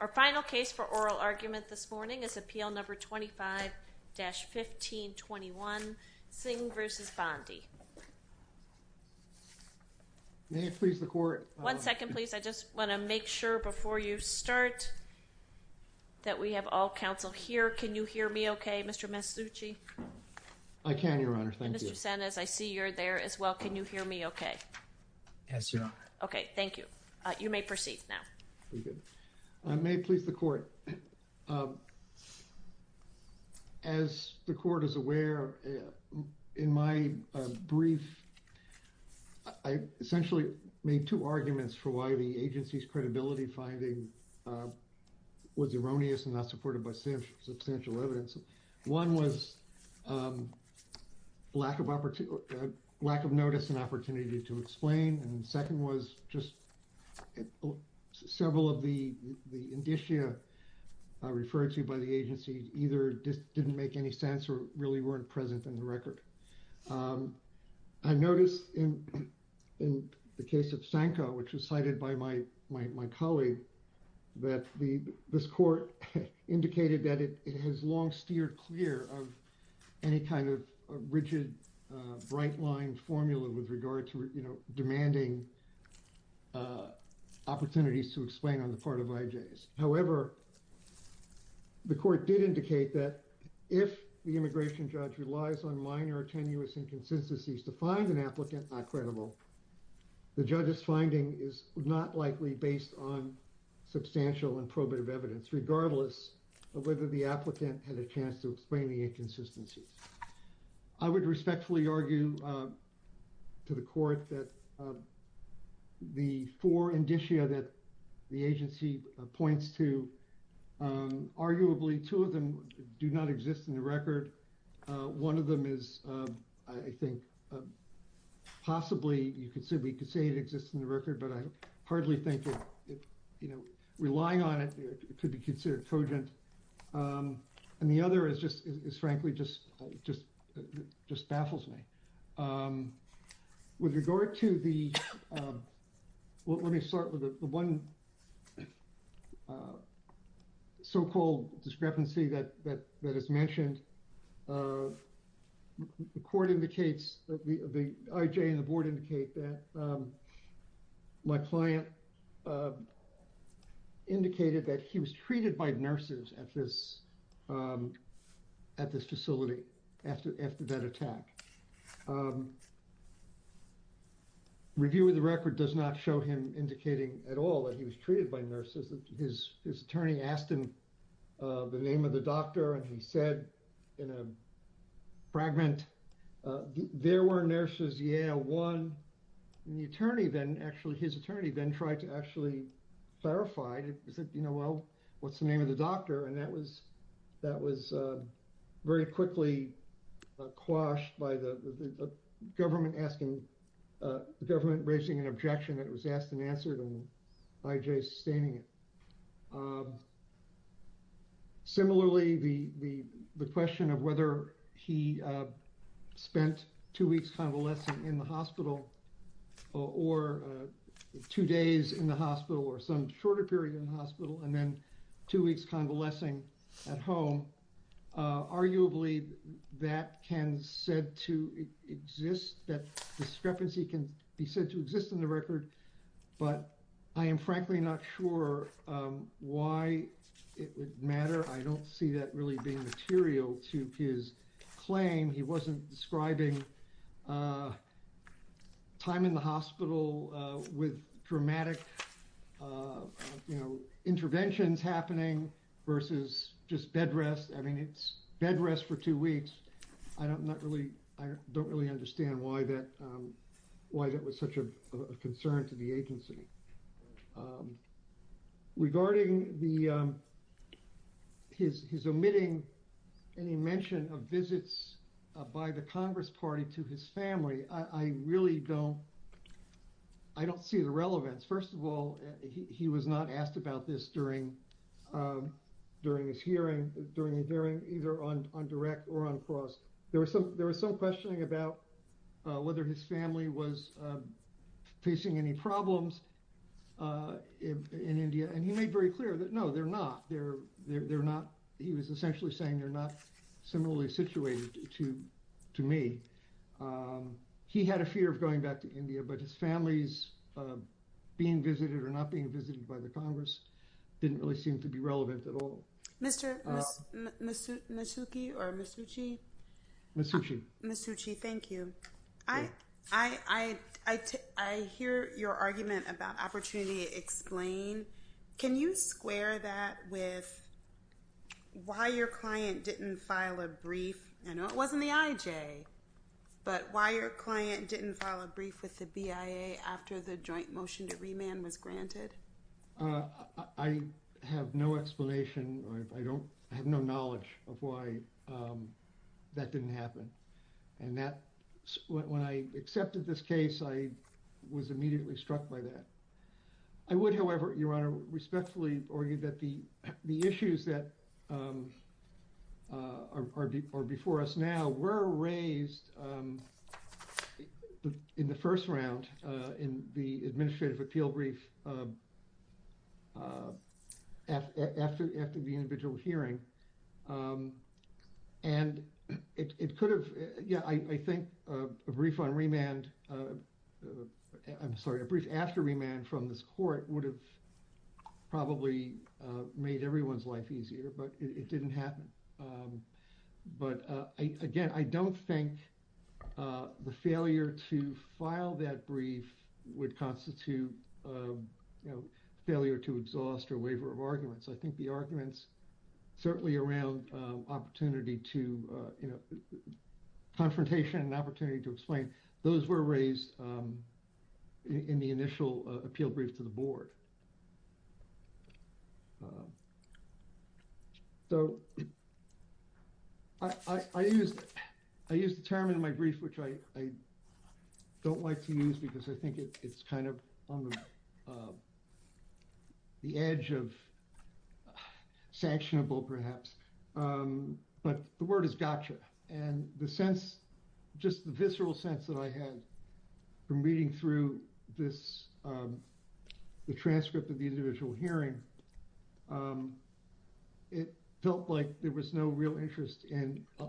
Our final case for oral argument this morning is Appeal No. 25-1521, Singh v. Bondi. One second, please. I just want to make sure before you start that we have all counsel here. Can you hear me okay, Mr. Masucci? I can, Your Honor. Thank you. Mr. Sanez, I see you're there as well. Can you hear me okay? Yes, Your Honor. Okay, thank you. You may proceed now. May it please the Court. As the Court is aware, in my brief, I essentially made two arguments for why the agency's credibility finding was erroneous and not supported by substantial evidence. One was lack of notice and opportunity to explain, and the second was just several of the indicia referred to by the agency either didn't make any sense or really weren't present in the record. I noticed in the case of Stanko, which was cited by my colleague, that this Court indicated that it has long steered clear of any kind of rigid, bright-lined formula with regard to, you know, demanding opportunities to explain on the part of IJs. However, the Court did indicate that if the immigration judge relies on minor tenuous inconsistencies to find an applicant not credible, the judge's finding is not likely based on substantial and probative evidence, regardless of whether the applicant had a chance to explain the inconsistencies. I would respectfully argue to the Court that the four indicia that the agency points to, arguably, two of them do not exist in the record. One of them is, I think, possibly, you could say it exists in the record, but I hardly think that, you know, relying on it could be considered cogent, and the other is just, frankly, just baffles me. With regard to the, let me start with the one so-called discrepancy that is mentioned, and the Court indicates, the IJ and the Board indicate that my client indicated that he was treated by nurses at this facility after that attack. Review of the record does not show him indicating at all that he was treated by nurses. His attorney asked him the name of the doctor, and he said in a fragment, there were nurses, yeah, one, and the attorney then, actually, his attorney then tried to actually clarify, he said, you know, well, what's the name of the doctor? And that was very quickly quashed by the government asking, the government raising an objection that it was asked and answered, and the IJ sustaining it. Similarly, the question of whether he spent two weeks convalescing in the hospital, or two days in the hospital, or some shorter period in the hospital, and then two weeks convalescing at home, arguably, that can said to exist, that discrepancy can be said to exist in the record, but I am frankly not sure why it would matter. I don't see that really being material to his claim. He wasn't describing time in the hospital with dramatic, you know, interventions happening versus just bed rest. I mean, it's bed rest for two weeks. I don't really understand why that was such a concern to the agency. Regarding his omitting any mention of visits by the Congress party to his family, I really don't see the relevance. First of all, he was not asked about this during his hearing, either on direct or on cross. There was some questioning about whether his family was facing any problems in India, and he made very clear that no, they're not. He was essentially saying they're not similarly situated to me. He had a fear of going back to India, but his family's being visited or not being visited by the Congress didn't really seem to be relevant at all. Mr. Masucci, thank you. I hear your argument about opportunity to explain. Can you square that with why your client didn't file a brief? I know it wasn't the IJ, but why your client didn't file a brief with the BIA after the joint motion to remand was granted? I have no explanation. I have no knowledge of why that didn't happen. When I accepted this case, I was immediately struck by that. I would, however, Your Honor, respectfully argue that the issues that are before us now were raised in the first round in the administrative appeal brief after the individual hearing. And it could have, yeah, I think a brief on remand, I'm sorry, a brief after remand from this court would have probably made everyone's life easier, but it didn't happen. But again, I don't think the failure to file that brief would constitute failure to exhaust or waiver of arguments. I think the arguments certainly around opportunity to, you know, confrontation and opportunity to explain, those were raised in the initial appeal brief to the board. So I used, I used the term in my brief, which I don't like to use because I think it's kind of on the edge of sanctionable, perhaps, but the word is gotcha. And the sense, just the visceral sense that I had from reading through this, the transcript of the individual hearing, it felt like there was no real interest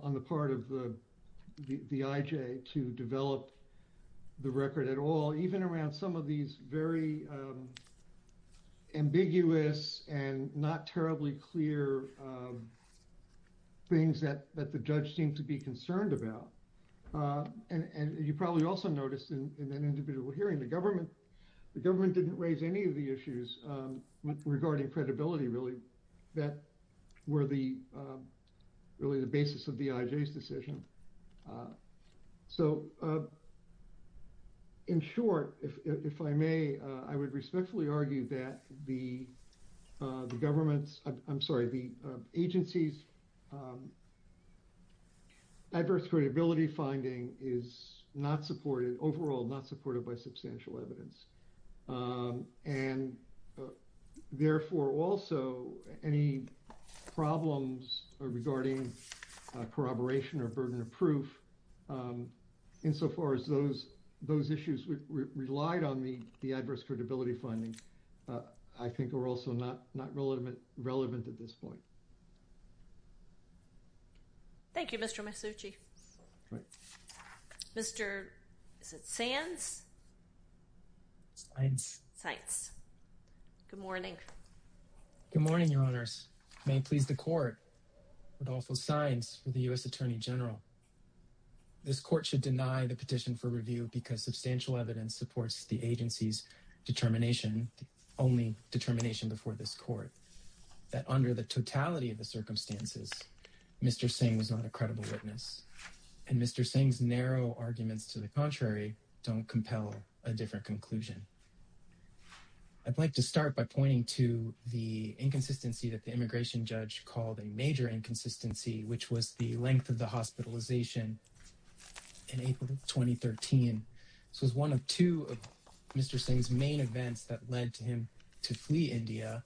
on the part of the IJ to develop the record at all, even around some of these very ambiguous and not terribly clear things that the judge seemed to be concerned about. And you probably also noticed in an individual hearing, the government, the government didn't raise any of the issues regarding credibility, really, that were the, really the basis of the IJ's decision. So in short, if I may, I would respectfully argue that the government's, I'm sorry, the agency's adverse credibility finding is not supported, overall not supported by substantial evidence, and therefore also any problems regarding corroboration or burden of proof, insofar as those, those issues relied on the, the adverse credibility findings, I think are also not, not relevant, relevant at this point. Thank you, Mr. Masucci. Right. Mr. is it Sands? Good morning. Good morning, your honors. May it please the court, with all full signs for the U.S. Attorney General, this court should deny the petition for review because substantial evidence supports the agency's determination, the only determination before this court, that under the totality of the and Mr. Singh's narrow arguments to the contrary, don't compel a different conclusion. I'd like to start by pointing to the inconsistency that the immigration judge called a major inconsistency, which was the length of the hospitalization in April of 2013. This was one of two of Mr. Singh's main events that led to him to flee India,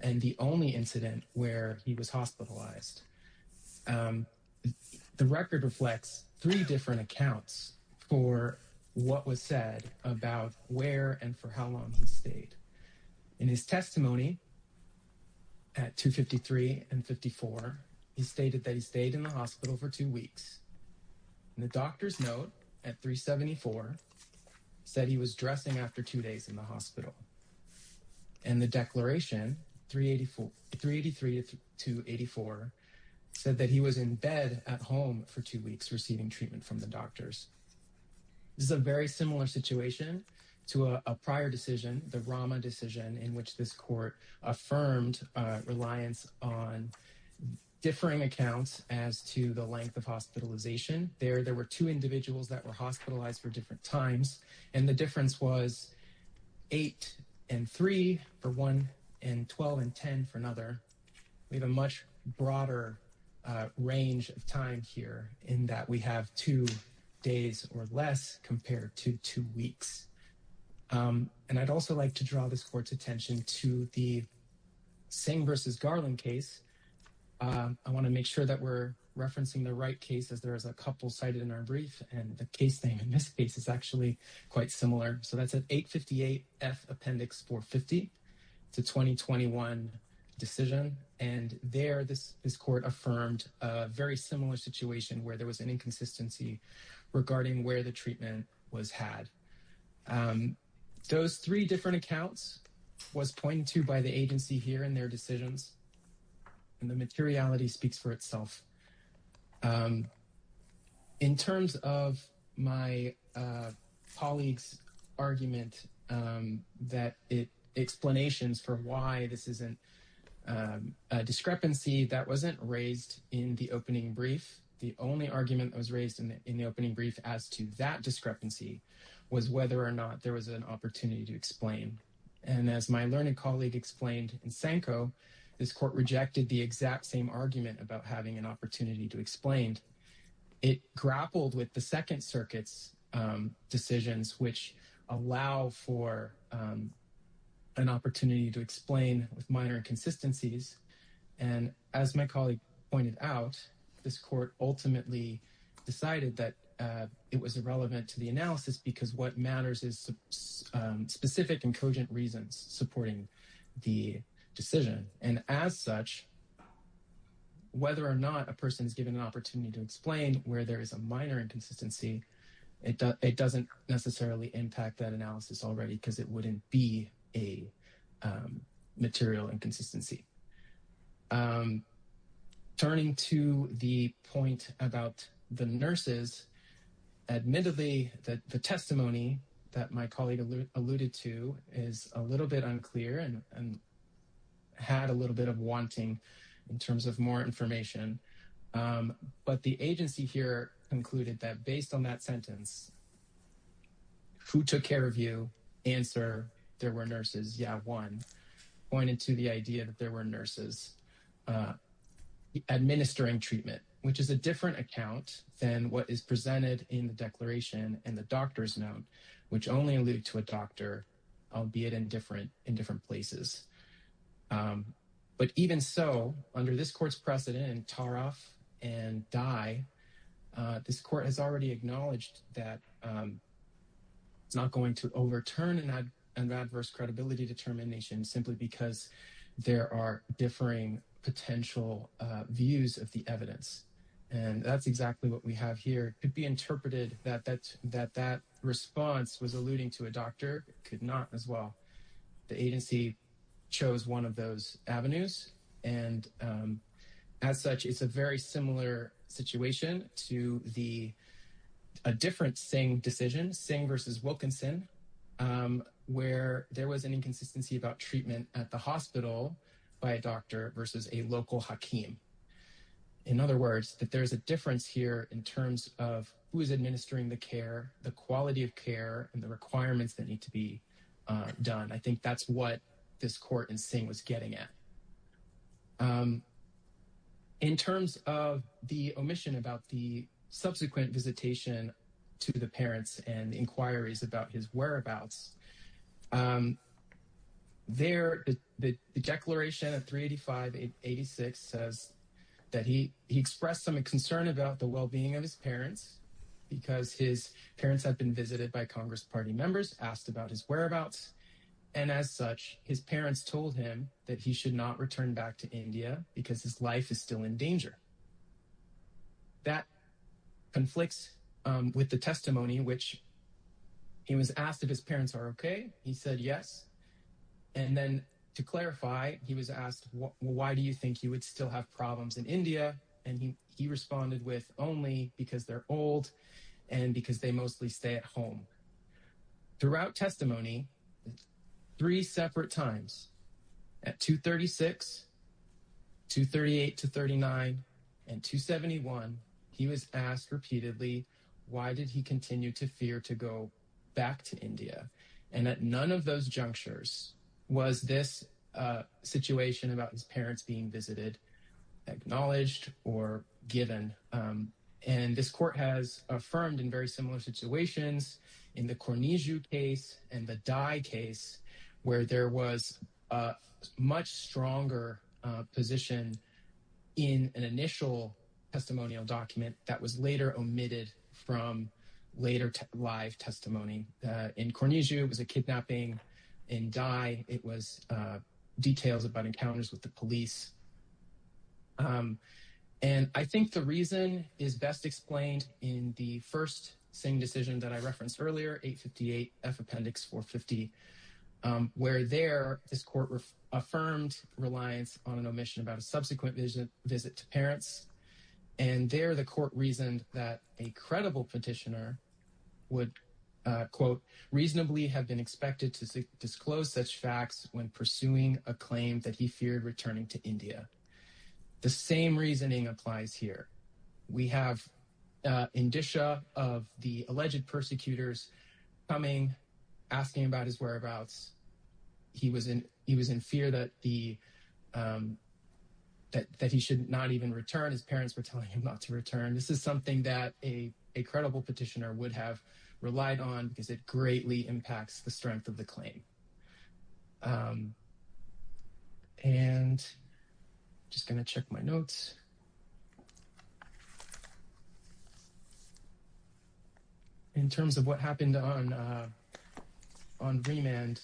and the only incident where he was hospitalized. Um, the record reflects three different accounts for what was said about where and for how long he stayed. In his testimony at 253 and 54, he stated that he stayed in the hospital for two weeks. The doctor's note at 374 said he was dressing after two days in the hospital. And the declaration 384, 383 to 284 said that he was in bed at home for two weeks, receiving treatment from the doctors. This is a very similar situation to a prior decision, the Rama decision, in which this court affirmed reliance on differing accounts as to the length of hospitalization. There, there were two individuals that were hospitalized for different times, and the three for one and 12 and 10 for another. We have a much broader range of time here in that we have two days or less compared to two weeks. And I'd also like to draw this court's attention to the Singh versus Garland case. I want to make sure that we're referencing the right case as there is a couple cited in our brief, and the case name in this case is actually quite similar. So that's an 858 F Appendix 450 to 2021 decision. And there, this court affirmed a very similar situation where there was an inconsistency regarding where the treatment was had. Those three different accounts was pointed to by the agency here in their decisions, and the materiality speaks for itself. In terms of my colleague's argument that it, explanations for why this isn't a discrepancy that wasn't raised in the opening brief, the only argument that was raised in the opening brief as to that discrepancy was whether or not there was an opportunity to explain. And as my learned colleague explained in Sanko, this court rejected the exact same argument about having an opportunity to explain. It grappled with the Second Circuit's decisions which allow for an opportunity to explain with minor inconsistencies. And as my colleague pointed out, this court ultimately decided that it was irrelevant to the analysis because what matters is specific and cogent reasons supporting the decision. And as such, whether or not a person is given an opportunity to explain where there is a minor inconsistency, it doesn't necessarily impact that analysis already because it wouldn't be a material inconsistency. Turning to the point about the nurses, admittedly, the testimony that my colleague alluded to is a little bit unclear and had a little bit of wanting in terms of more information. But the agency here concluded that based on that sentence, who took care of you? Answer, there were nurses. Yeah, one pointed to the idea that there were nurses administering treatment, which is a different account than what is presented in the declaration and the doctor's note, which only alluded to a doctor, albeit in different places. But even so, under this court's precedent and tar off and die, this court has already acknowledged that it's not going to overturn an adverse credibility determination simply because there are differing potential views of the evidence. And that's exactly what we have here. It could be interpreted that that response was alluding to a doctor. It could not as well. The agency chose one of those avenues. And as such, it's a very similar situation to a different Singh decision, Singh versus Wilkinson, where there was an inconsistency about treatment at the hospital by a doctor versus a local hakim. In other words, that there is a difference here in terms of who is administering the care, the quality of care, and the requirements that need to be done. I think that's what this court in Singh was getting at. In terms of the omission about the subsequent visitation to the parents and inquiries about his whereabouts, the declaration of 385-86 says that he expressed some concern about the well-being of his parents because his parents had been visited by Congress party members, asked about his whereabouts. And as such, his parents told him that he should not return back to India because his life is still in danger. That conflicts with the testimony, which he was asked if his parents are okay. He said yes. And then to clarify, he was asked, why do you think he would still have problems in And he responded with only because they're old and because they mostly stay at home. Throughout testimony, three separate times, at 236, 238-39, and 271, he was asked repeatedly, why did he continue to fear to go back to India? And at none of those junctures was this situation about his parents being visited acknowledged or given. And this court has affirmed in very similar situations in the Cornijo case and the Dai case, where there was a much stronger position in an initial testimonial document that was later omitted from later live testimony. In Cornijo, it was a kidnapping. In Dai, it was details about encounters with the police. And I think the reason is best explained in the first Singh decision that I referenced earlier, 858-F Appendix 450, where there, this court affirmed reliance on an omission about a subsequent visit to parents. And there, the court reasoned that a credible petitioner would, quote, reasonably have been expected to disclose such facts when pursuing a claim that he feared returning to India. The same reasoning applies here. We have Indisha of the alleged persecutors coming, asking about his whereabouts. He was in fear that he should not even return. His parents were telling him not to return. This is something that a credible petitioner would have relied on because it greatly impacts the strength of the claim. And I'm just going to check my notes. In terms of what happened on remand,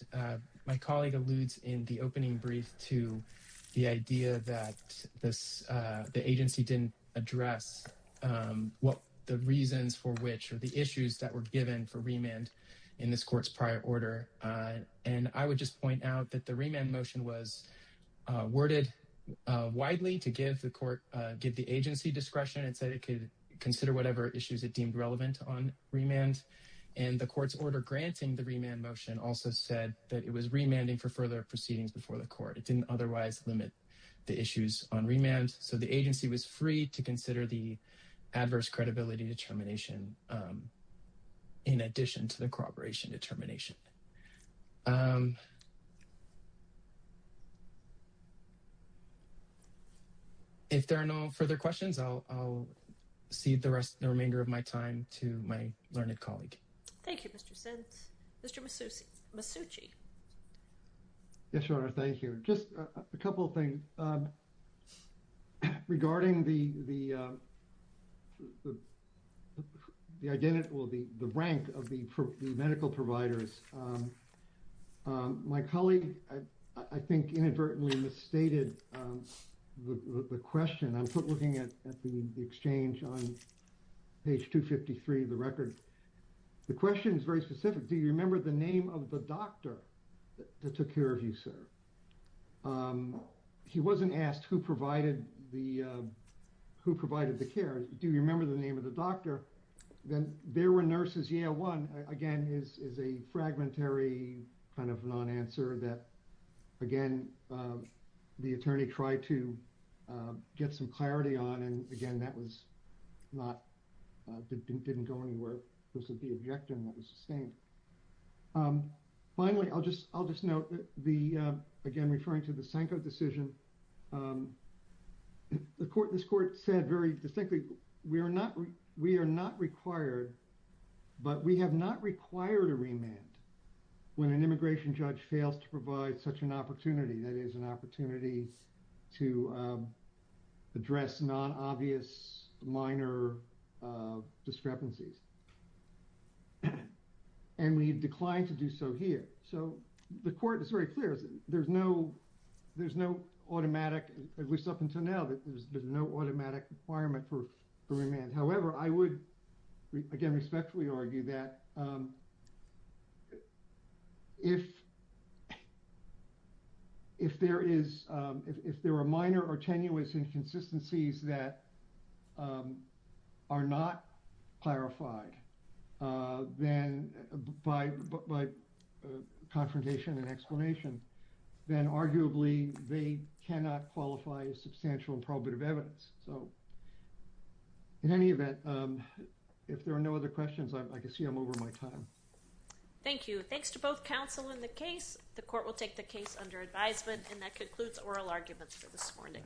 my colleague alludes in the opening brief to the idea that this, the agency didn't address what the reasons for which, or the issues that were given for and I would just point out that the remand motion was worded widely to give the court, give the agency discretion and said it could consider whatever issues it deemed relevant on remand. And the court's order granting the remand motion also said that it was remanding for further proceedings before the court. It didn't otherwise limit the issues on remand, so the agency was free to consider the adverse credibility determination in addition to the corroboration determination. If there are no further questions, I'll cede the remainder of my time to my learned colleague. Thank you, Mr. Sins. Mr. Masucci. Yes, Your Honor. Thank you. Just a couple of things. Regarding the rank of the medical providers, my colleague, I think, inadvertently misstated the question. I'm looking at the exchange on page 253 of the record. The question is very specific. Do you remember the name of the doctor that took care of you, sir? He wasn't asked who provided the care. Do you remember the name of the doctor? Then there were nurses. Yeah, one, again, is a fragmentary kind of non-answer that, again, the attorney tried to get some clarity on. And again, that didn't go anywhere. This would be objective and that was sustained. Finally, I'll just note, again, referring to the Sanko decision, this court said very distinctly, we are not required, but we have not required a remand when an immigration judge fails to provide such an opportunity. That is an opportunity to address non-obvious minor discrepancies. And we decline to do so here. So the court is very clear. There's no automatic, at least up until now, that there's been no automatic requirement for remand. However, I would, again, respectfully argue that if there are minor or tenuous inconsistencies that are not clarified by confrontation and explanation, then arguably they cannot qualify as substantial and probative evidence. So in any event, if there are no other questions, I can see I'm over my time. Thank you. Thanks to both counsel in the case. The court will take the case under advisement. And that concludes oral arguments for this morning.